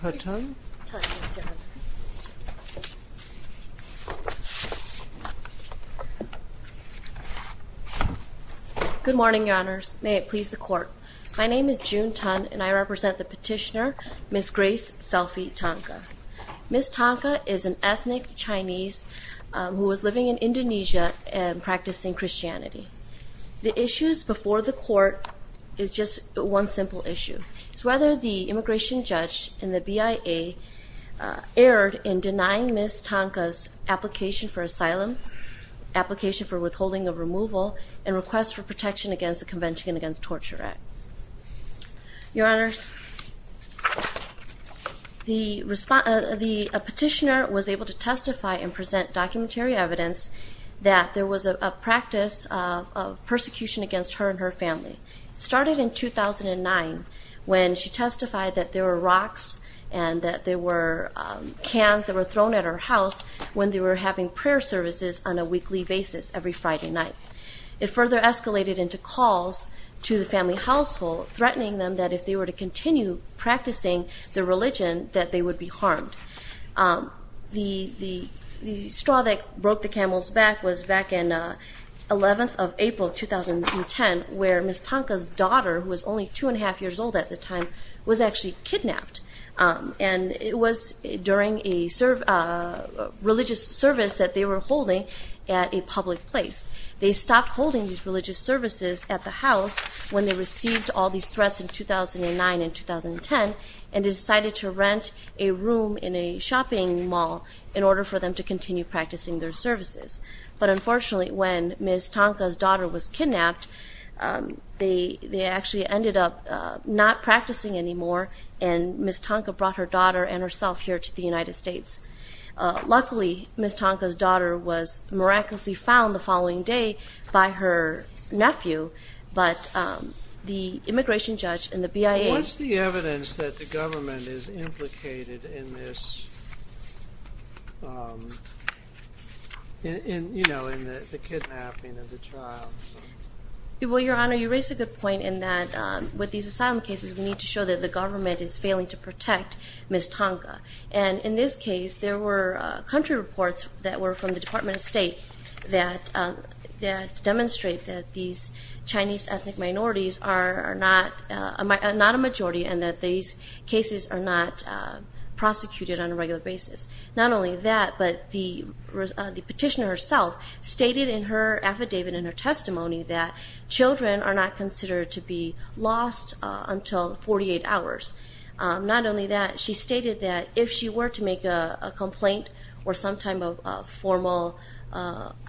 Good morning, Your Honors. May it please the Court. My name is June Tan, and I represent the petitioner, Ms. Grace Selfie Tangka. Ms. Tangka is an ethnic Chinese who is living in Indonesia and practicing Christianity. The issues before the Court is just one simple issue. It's whether the immigration judge in the BIA erred in denying Ms. Tangka's application for asylum, application for withholding of removal, and request for protection against the Convention Against Torture Act. Your Honors, the petitioner was able to testify and present documentary evidence that there was a practice of persecution against her and her family. It started in 2009 when she testified that there were rocks and that there were cans that were thrown at her house when they were having prayer services on a weekly basis every Friday night. It further escalated into calls to the family household threatening them that if they were to continue practicing the religion that they would be harmed. The straw that Ms. Tangka's daughter, who was only two and a half years old at the time, was actually kidnapped. And it was during a religious service that they were holding at a public place. They stopped holding these religious services at the house when they received all these threats in 2009 and 2010 and decided to rent a room in a shopping mall in order for them to continue practicing their services. But unfortunately, when Ms. Tangka's daughter was kidnapped, they actually ended up not practicing anymore, and Ms. Tangka brought her daughter and herself here to the United States. Luckily, Ms. Tangka's daughter was miraculously found the following day by her nephew, but the immigration judge and the BIA... What's the evidence that the government is implicated in this, you know, in the kidnapping of the child? Well, Your Honor, you raise a good point in that with these asylum cases, we need to show that the government is failing to protect Ms. Tangka. And in this case, there were country reports that were from the Department of State that demonstrate that these Chinese ethnic minorities are not a majority and that these cases are not prosecuted on a regular basis. Not only that, but the petitioner herself stated in her affidavit, in her testimony, that children are not considered to be lost until 48 hours. Not only that, she stated that if she were to make a complaint or some type of formal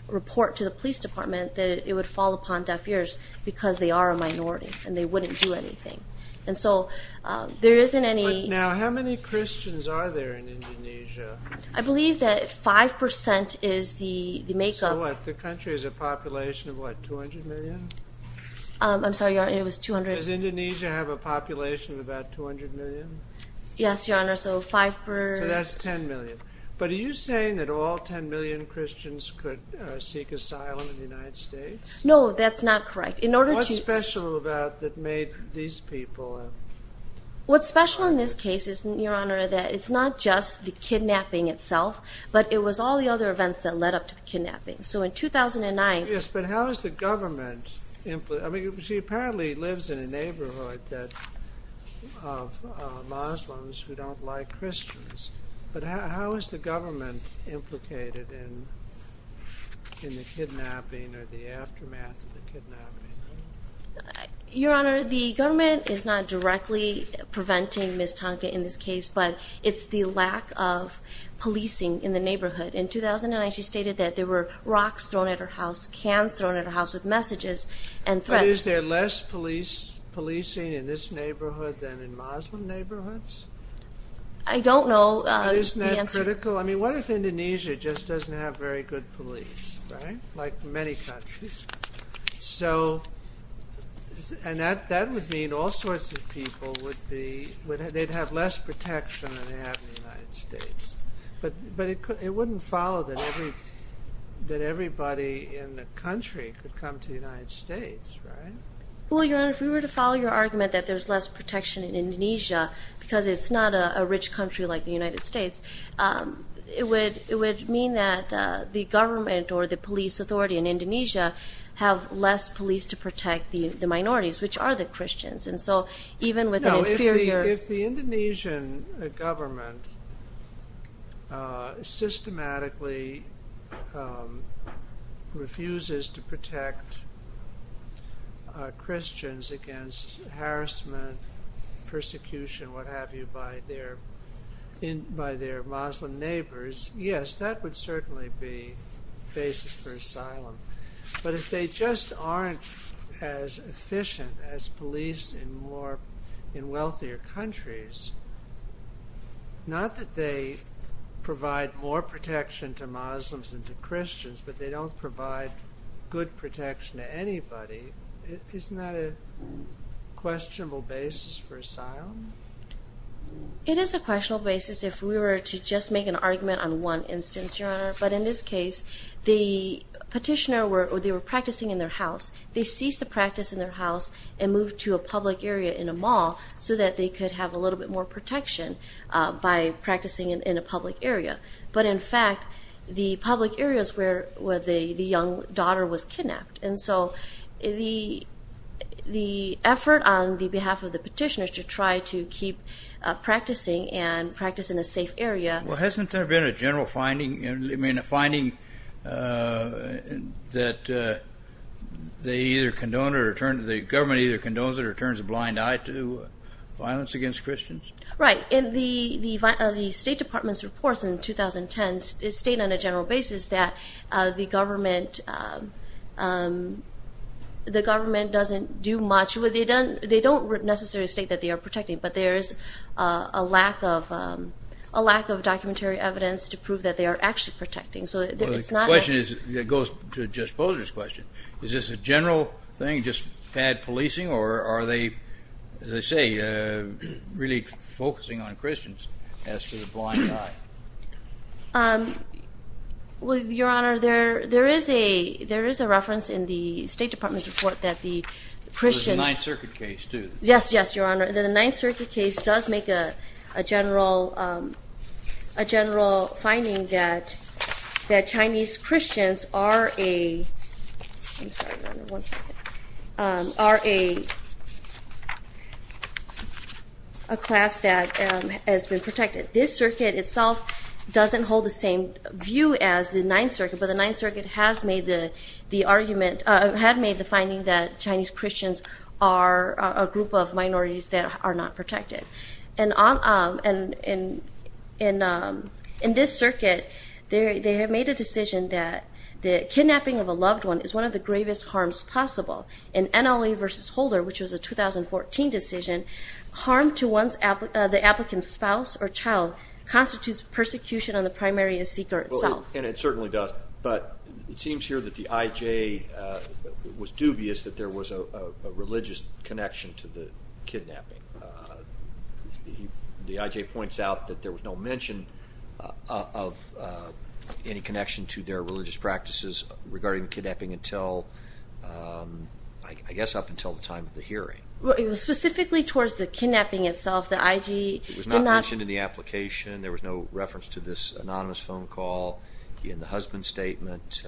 report to the police department that it would fall upon deaf ears because they are a minority and they wouldn't do anything. And so, there isn't any... Now, how many Christians are there in Indonesia? I believe that 5% is the makeup... So what, the country has a population of what, 200 million? I'm sorry, Your Honor, it was 200... Does Indonesia have a population of about 200 million? Yes, Your Honor, so 5 per... So that's 10 million. But are you saying that all 10 million Christians could seek asylum in the United States? No, that's not correct. In order to... What's special about that made these people... What's special in this case is, Your Honor, that it's not just the kidnapping itself, but it was all the other events that led up to the kidnapping. So in 2009... Yes, but how is the government... I mean, she apparently lives in a neighborhood that... of Muslims who don't like Christians. But how is the government implicated in the kidnapping or the aftermath of the kidnapping? Your Honor, the government is not directly preventing Ms. Tonka in this case, but it's the lack of policing in the neighborhood. In 2009, she stated that there were rocks thrown at her house, cans thrown at her house with messages and threats. But is there less policing in this neighborhood than in Muslim neighborhoods? I don't know. Isn't that critical? I mean, what if Indonesia just doesn't have very good police, right? Like many countries. So... and that would mean all sorts of people would be... they'd have less protection than they have in the United States. But it wouldn't follow that everybody in the country could come to the United States, right? Well, Your Honor, if we were to follow your argument that there's less protection in Indonesia, because it's not a rich country like the United States, it would mean that the government or the police authority in Indonesia have less police to protect the minorities, which are the Christians. And so even with an inferior... systematically refuses to protect Christians against harassment, persecution, what have you, by their Muslim neighbors, yes, that would certainly be the basis for asylum. But if they just aren't as efficient as police in wealthier countries, not that they provide more protection to Muslims than to Christians, but they don't provide good protection to anybody, isn't that a questionable basis for asylum? It is a questionable basis if we were to just make an argument on one instance, Your Honor. But in this case, the petitioner... they were practicing in their house. They ceased the practice in their house and moved to a public area in a mall so that they could have a little bit more protection by practicing in a public area. But in fact, the public area is where the young daughter was kidnapped. And so the effort on the behalf of the petitioner to try to keep practicing and practice in a safe area... Well, hasn't there been a general finding? I mean, a finding that they either condone it or turn... Violence against Christians? Right. And the State Department's reports in 2010 state on a general basis that the government doesn't do much. They don't necessarily state that they are protecting, but there is a lack of documentary evidence to prove that they are actually protecting. The question goes to Judge Posner's question. Is this a general thing, just bad policing? Or are they, as I say, really focusing on Christians as to the blind eye? Your Honor, there is a reference in the State Department's report that the Christians... There's a Ninth Circuit case, too. Yes, yes, Your Honor. The Ninth Circuit case does make a general finding that Chinese Christians are a... I'm sorry, Your Honor. One second. ...are a class that has been protected. This circuit itself doesn't hold the same view as the Ninth Circuit, but the Ninth Circuit has made the argument... had made the finding that Chinese Christians are a group of minorities that are not protected. And in this circuit, they have made a decision that kidnapping of a loved one is one of the gravest harms possible. In NLA v. Holder, which was a 2014 decision, harm to the applicant's spouse or child constitutes persecution on the primary and seeker itself. And it certainly does. But it seems here that the IJ was dubious that there was a religious connection to the kidnapping. The IJ points out that there was no mention of any connection to their religious practices regarding the kidnapping until... I guess up until the time of the hearing. Specifically towards the kidnapping itself, the IJ did not... It was not mentioned in the application. There was no reference to this anonymous phone call in the husband's statement.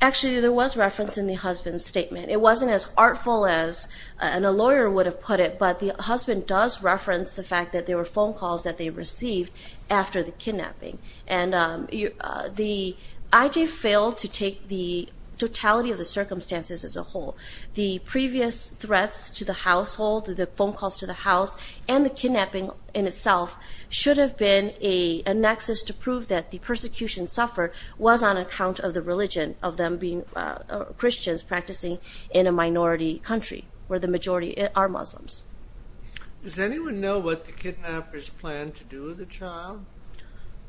Actually, there was reference in the husband's statement. It wasn't as artful as a lawyer would have put it, but the husband does reference the fact that there were phone calls that they received after the kidnapping. And the IJ failed to take the totality of the circumstances as a whole. The previous threats to the household, the phone calls to the house and the kidnapping in itself should have been a nexus to prove that the persecution suffered was on account of the religion of them being Christians practicing in a minority country where the majority are Muslims. Does anyone know what the kidnappers planned to do with the child?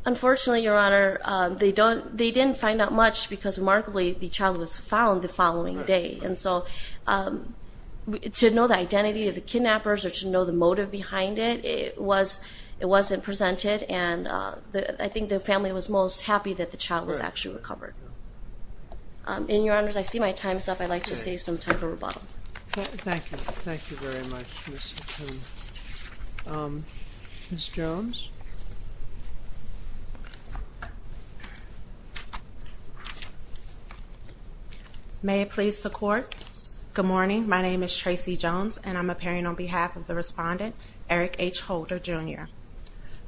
Unfortunately, Your Honor, they didn't find out much because remarkably the child was found the following day. And so to know the identity of the kidnappers or to know the motive behind it, it wasn't presented and I think the family was most happy that the child was actually recovered. And, Your Honors, I see my time is up. I'd like to save some time for rebuttal. Thank you. Thank you very much. Ms. Jones? May it please the Court. Good morning. My name is Tracey Jones and I'm appearing on behalf of the respondent, Eric H. Holder, Jr.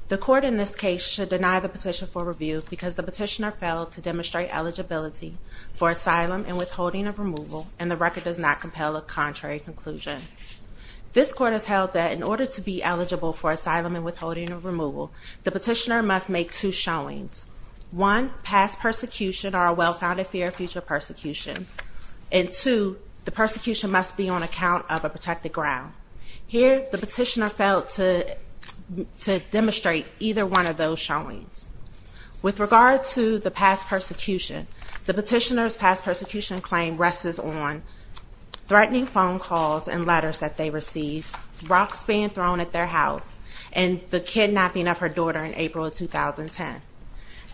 The Court in this case should deny the petition for review because the petitioner failed to demonstrate eligibility for asylum and withholding of removal and the record does not compel a contrary conclusion. This Court has held that in order to be eligible for asylum and withholding of removal, the petitioner must make two showings. One, past persecution or a well-founded fear of future persecution. And two, the persecution must be on account of a protected ground. Here, the petitioner failed to demonstrate either one of those showings. With regard to the past persecution, the petitioner's past persecution claim rests on threatening phone calls and letters that they received, rocks being thrown at their house, and the kidnapping of her daughter in April 2010.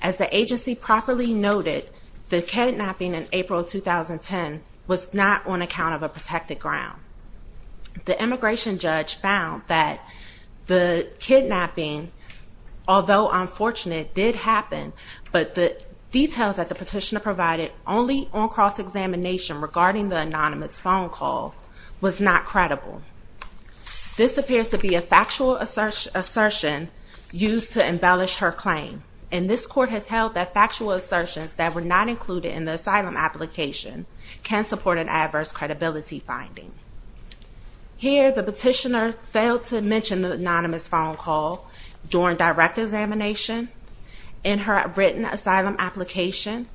As the agency properly noted, the kidnapping in April 2010 was not on account of a protected ground. The immigration judge found that the kidnapping, although unfortunate, did happen, but the details that the petitioner provided only on cross-examination regarding the anonymous phone call was not credible. This appears to be a factual assertion used to embellish her claim. And this Court has held that factual assertions that were not included in the asylum application can support an adverse credibility finding. Here, the petitioner failed to mention the anonymous phone call during direct examination in her written asylum application.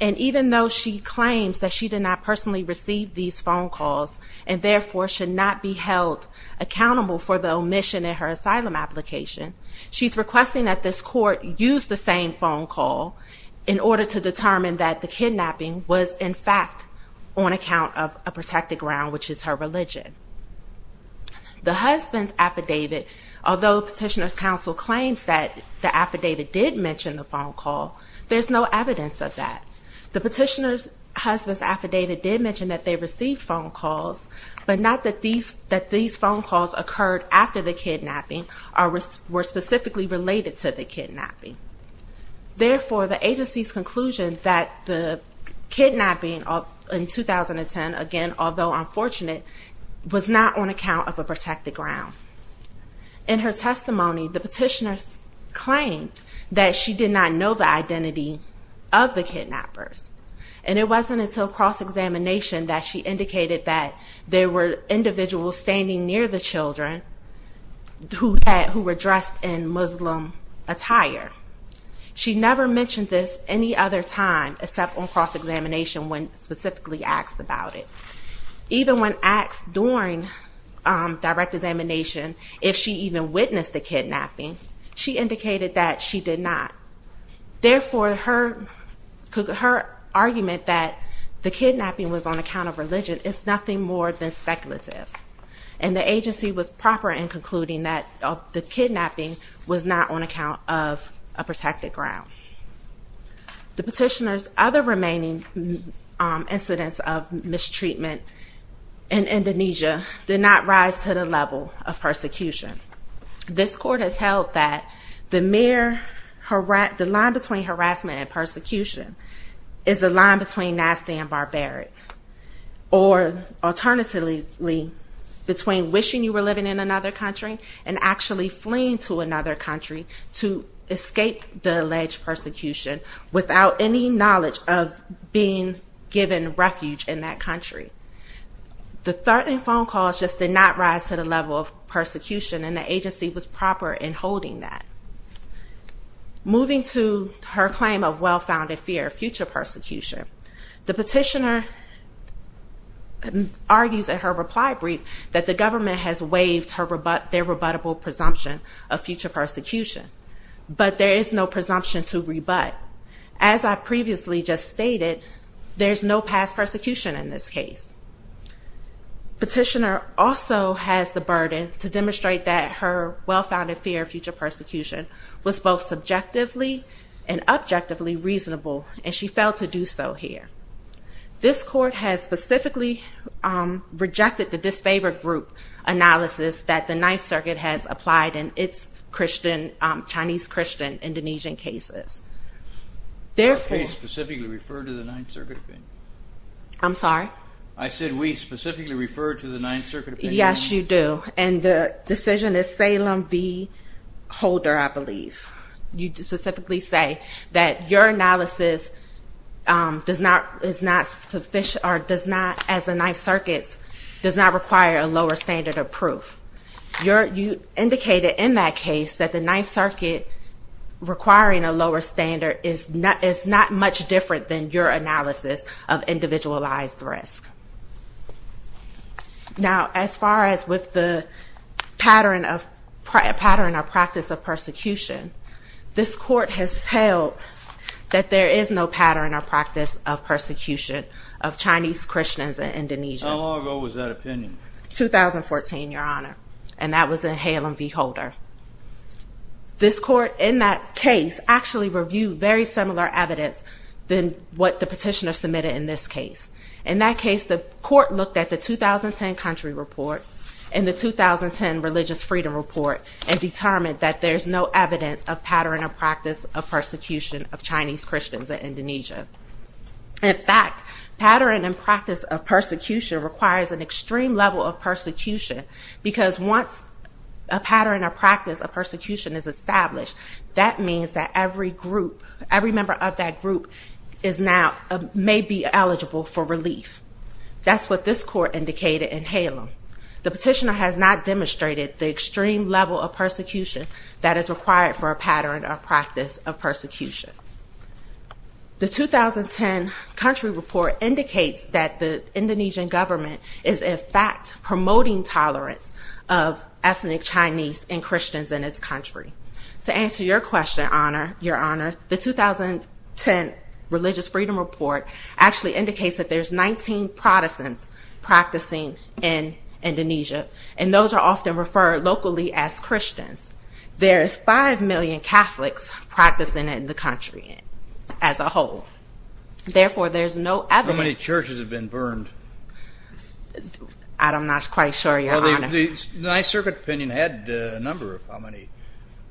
And even though she claims that she did not personally receive these phone calls, and therefore should not be held accountable for the omission in her asylum application, she's requesting that this Court use the same phone call in order to determine that the kidnapping was, in fact, on account of a protected ground, which is her religion. The husband's affidavit, although Petitioner's Counsel claims that the affidavit did mention the phone call, there's no evidence of that. The petitioner's husband's affidavit did mention that they received phone calls, but not that these phone calls occurred after the kidnapping or were specifically related to the kidnapping. Therefore, the agency's conclusion that the kidnapping in 2010, again, although unfortunate, was not on account of a protected ground. In her testimony, the petitioner claimed that she did not know the identity of the kidnappers. And it wasn't until cross-examination that she indicated that there were individuals standing near the children who were dressed in Muslim attire. She never mentioned this any other time except on cross-examination when specifically asked about it. Even when asked during direct examination if she even witnessed the kidnapping, she indicated that she did not. Therefore, her argument that the kidnapping was on account of religion is nothing more than speculative. And the agency was proper in concluding that the kidnapping was not on account of a protected ground. The petitioner's other remaining incidents of mistreatment in Indonesia did not rise to the level of persecution. This court has held that the line between harassment and persecution is the line between nasty and barbaric, or alternatively, between wishing you were living in another country and actually fleeing to another country to escape the alleged persecution without any knowledge of being given refuge in that country. The phone calls just did not rise to the level of persecution and the agency was proper in holding that. Moving to her claim of well-founded fear of future persecution, the petitioner argues in her reply brief that the government has waived their rebuttable presumption of future persecution, but there is no presumption to rebut. As I previously just stated, there's no past persecution in this case. Petitioner also has the burden to demonstrate that her well-founded fear of future persecution was both subjectively and objectively reasonable, and she failed to do so here. This court has specifically rejected the disfavored group analysis that the Ninth Circuit has applied in its Chinese Christian Indonesian cases. Our case specifically referred to the Ninth Circuit opinion. I'm sorry? I said we specifically referred to the Ninth Circuit opinion. Yes, you do, and the decision is Salem v. Holder, I believe. You specifically say that your analysis is not sufficient or does not, as the Ninth Circuit's, does not require a lower standard of proof. You indicated in that case that the Ninth Circuit requiring a lower standard is not much different than your analysis of individualized risk. Now, as far as with the pattern or practice of persecution, this court has held that there is no pattern or practice of persecution of Chinese Christians in Indonesia. How long ago was that opinion? 2014, Your Honor, and that was in Salem v. Holder. This court in that case actually reviewed very similar evidence than what the petitioner submitted in this case. In that case, the court looked at the 2010 country report and the 2010 religious freedom report and determined that there's no evidence of pattern or practice of persecution of Chinese Christians in Indonesia. In fact, pattern and practice of persecution requires an extreme level of persecution because once a pattern or practice of persecution is established, that means that every member of that group may be eligible for relief. That's what this court indicated in Salem. The petitioner has not demonstrated the extreme level of persecution that is required for a pattern or practice of persecution. The 2010 country report indicates that the Indonesian government is in fact promoting tolerance of ethnic Chinese and Christians in its country. To answer your question, Your Honor, the 2010 religious freedom report actually indicates that there's 19 Protestants practicing in Indonesia, and those are often referred locally as Christians. There's 5 million Catholics practicing in the country as a whole. Therefore, there's no evidence... How many churches have been burned? I'm not quite sure, Your Honor. The Ninth Circuit opinion had a number of how many?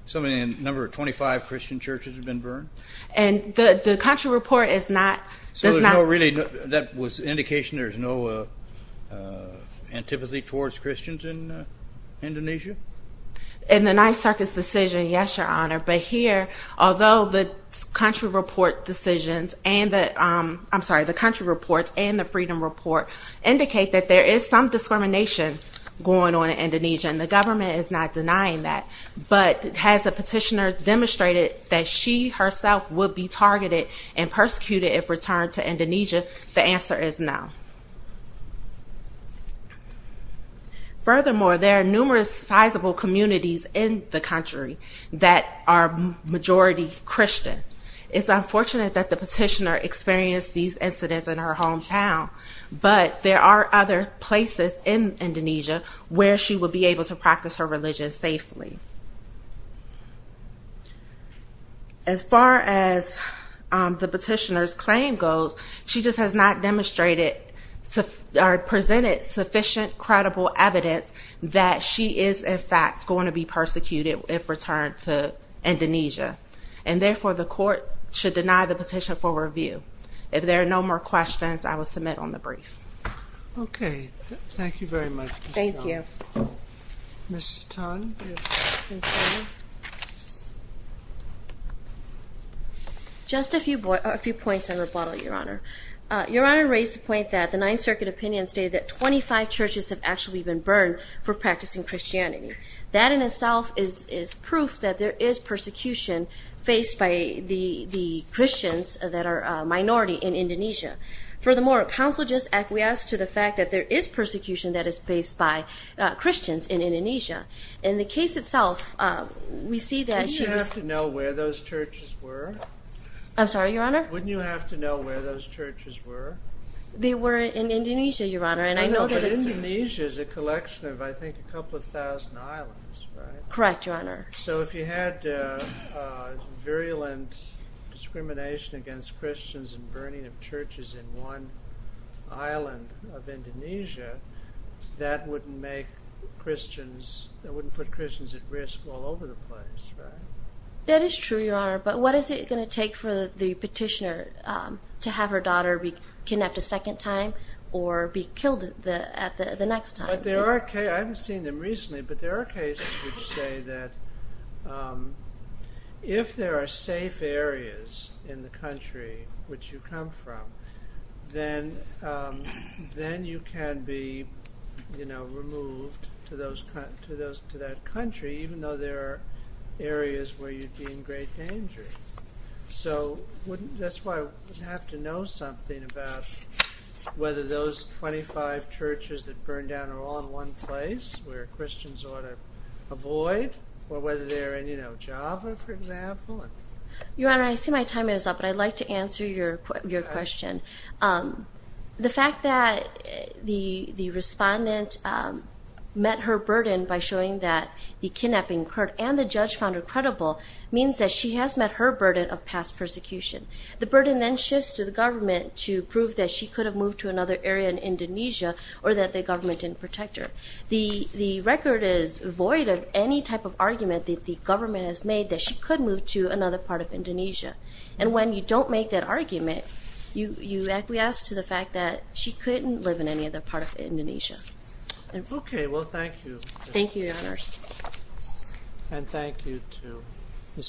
Something in the number of 25 Christian churches have been burned? And the country report is not... So there's no really... that was an indication there's no antipathy towards Christians in Indonesia? In the Ninth Circuit's decision, yes, Your Honor. But here, although the country report decisions and the... I'm sorry, the country reports and the freedom report indicate that there is some discrimination going on in Indonesia, and the government is not denying that, but has the petitioner demonstrated that she herself would be targeted and persecuted if returned to Indonesia? The answer is no. Furthermore, there are numerous sizable communities in the country that are majority Christian. It's unfortunate that the petitioner experienced these incidents in her hometown, but there are other places in Indonesia where she would be able to practice her religion safely. As far as the petitioner's claim goes, she just has not demonstrated or presented sufficient credible evidence that she is, in fact, going to be persecuted if returned to Indonesia. And therefore, the court should deny the petition for review. If there are no more questions, I will submit on the brief. Okay. Thank you very much. Thank you. Ms. Ton. Just a few points in rebuttal, Your Honor. Your Honor raised the point that the Ninth Circuit opinion stated that 25 churches have actually been burned for practicing Christianity. That in itself is proof that there is persecution faced by the Christians that are minority in Indonesia. Furthermore, counsel just acquiesced to the fact that there is persecution that is faced by Christians in Indonesia. In the case itself, we see that... Didn't you have to know where those churches were? I'm sorry, Your Honor? Wouldn't you have to know where those churches were? They were in Indonesia, Your Honor, and I know that it's... But Indonesia is a collection of, I think, a couple of thousand islands, right? Correct, Your Honor. So if you had virulent discrimination against Christians and burning of churches in one island of Indonesia, that wouldn't make Christians... That wouldn't put Christians at risk all over the place, right? That is true, Your Honor, but what is it going to take for the petitioner to have her daughter be kidnapped a second time or be killed at the next time? But there are cases... I haven't seen them recently, but there are cases which say that if there are safe areas in the country which you come from, then you can be removed to that country even though there are areas where you'd be in great danger. So that's why I would have to know something about whether those 25 churches that burned down are all in one place where Christians ought to avoid or whether they're in Java, for example. Your Honor, I see my time is up, but I'd like to answer your question. The fact that the respondent met her burden by showing that the kidnapping occurred and the judge found her credible means that she has met her burden of past persecution. The burden then shifts to the government to prove that she could have moved to another area in Indonesia or that the government didn't protect her. The record is void of any type of argument that the government has made that she could move to another part of Indonesia. And when you don't make that argument, you acquiesce to the fact that she couldn't live in any other part of Indonesia. Okay, well, thank you. Thank you, Your Honor. And thank you to...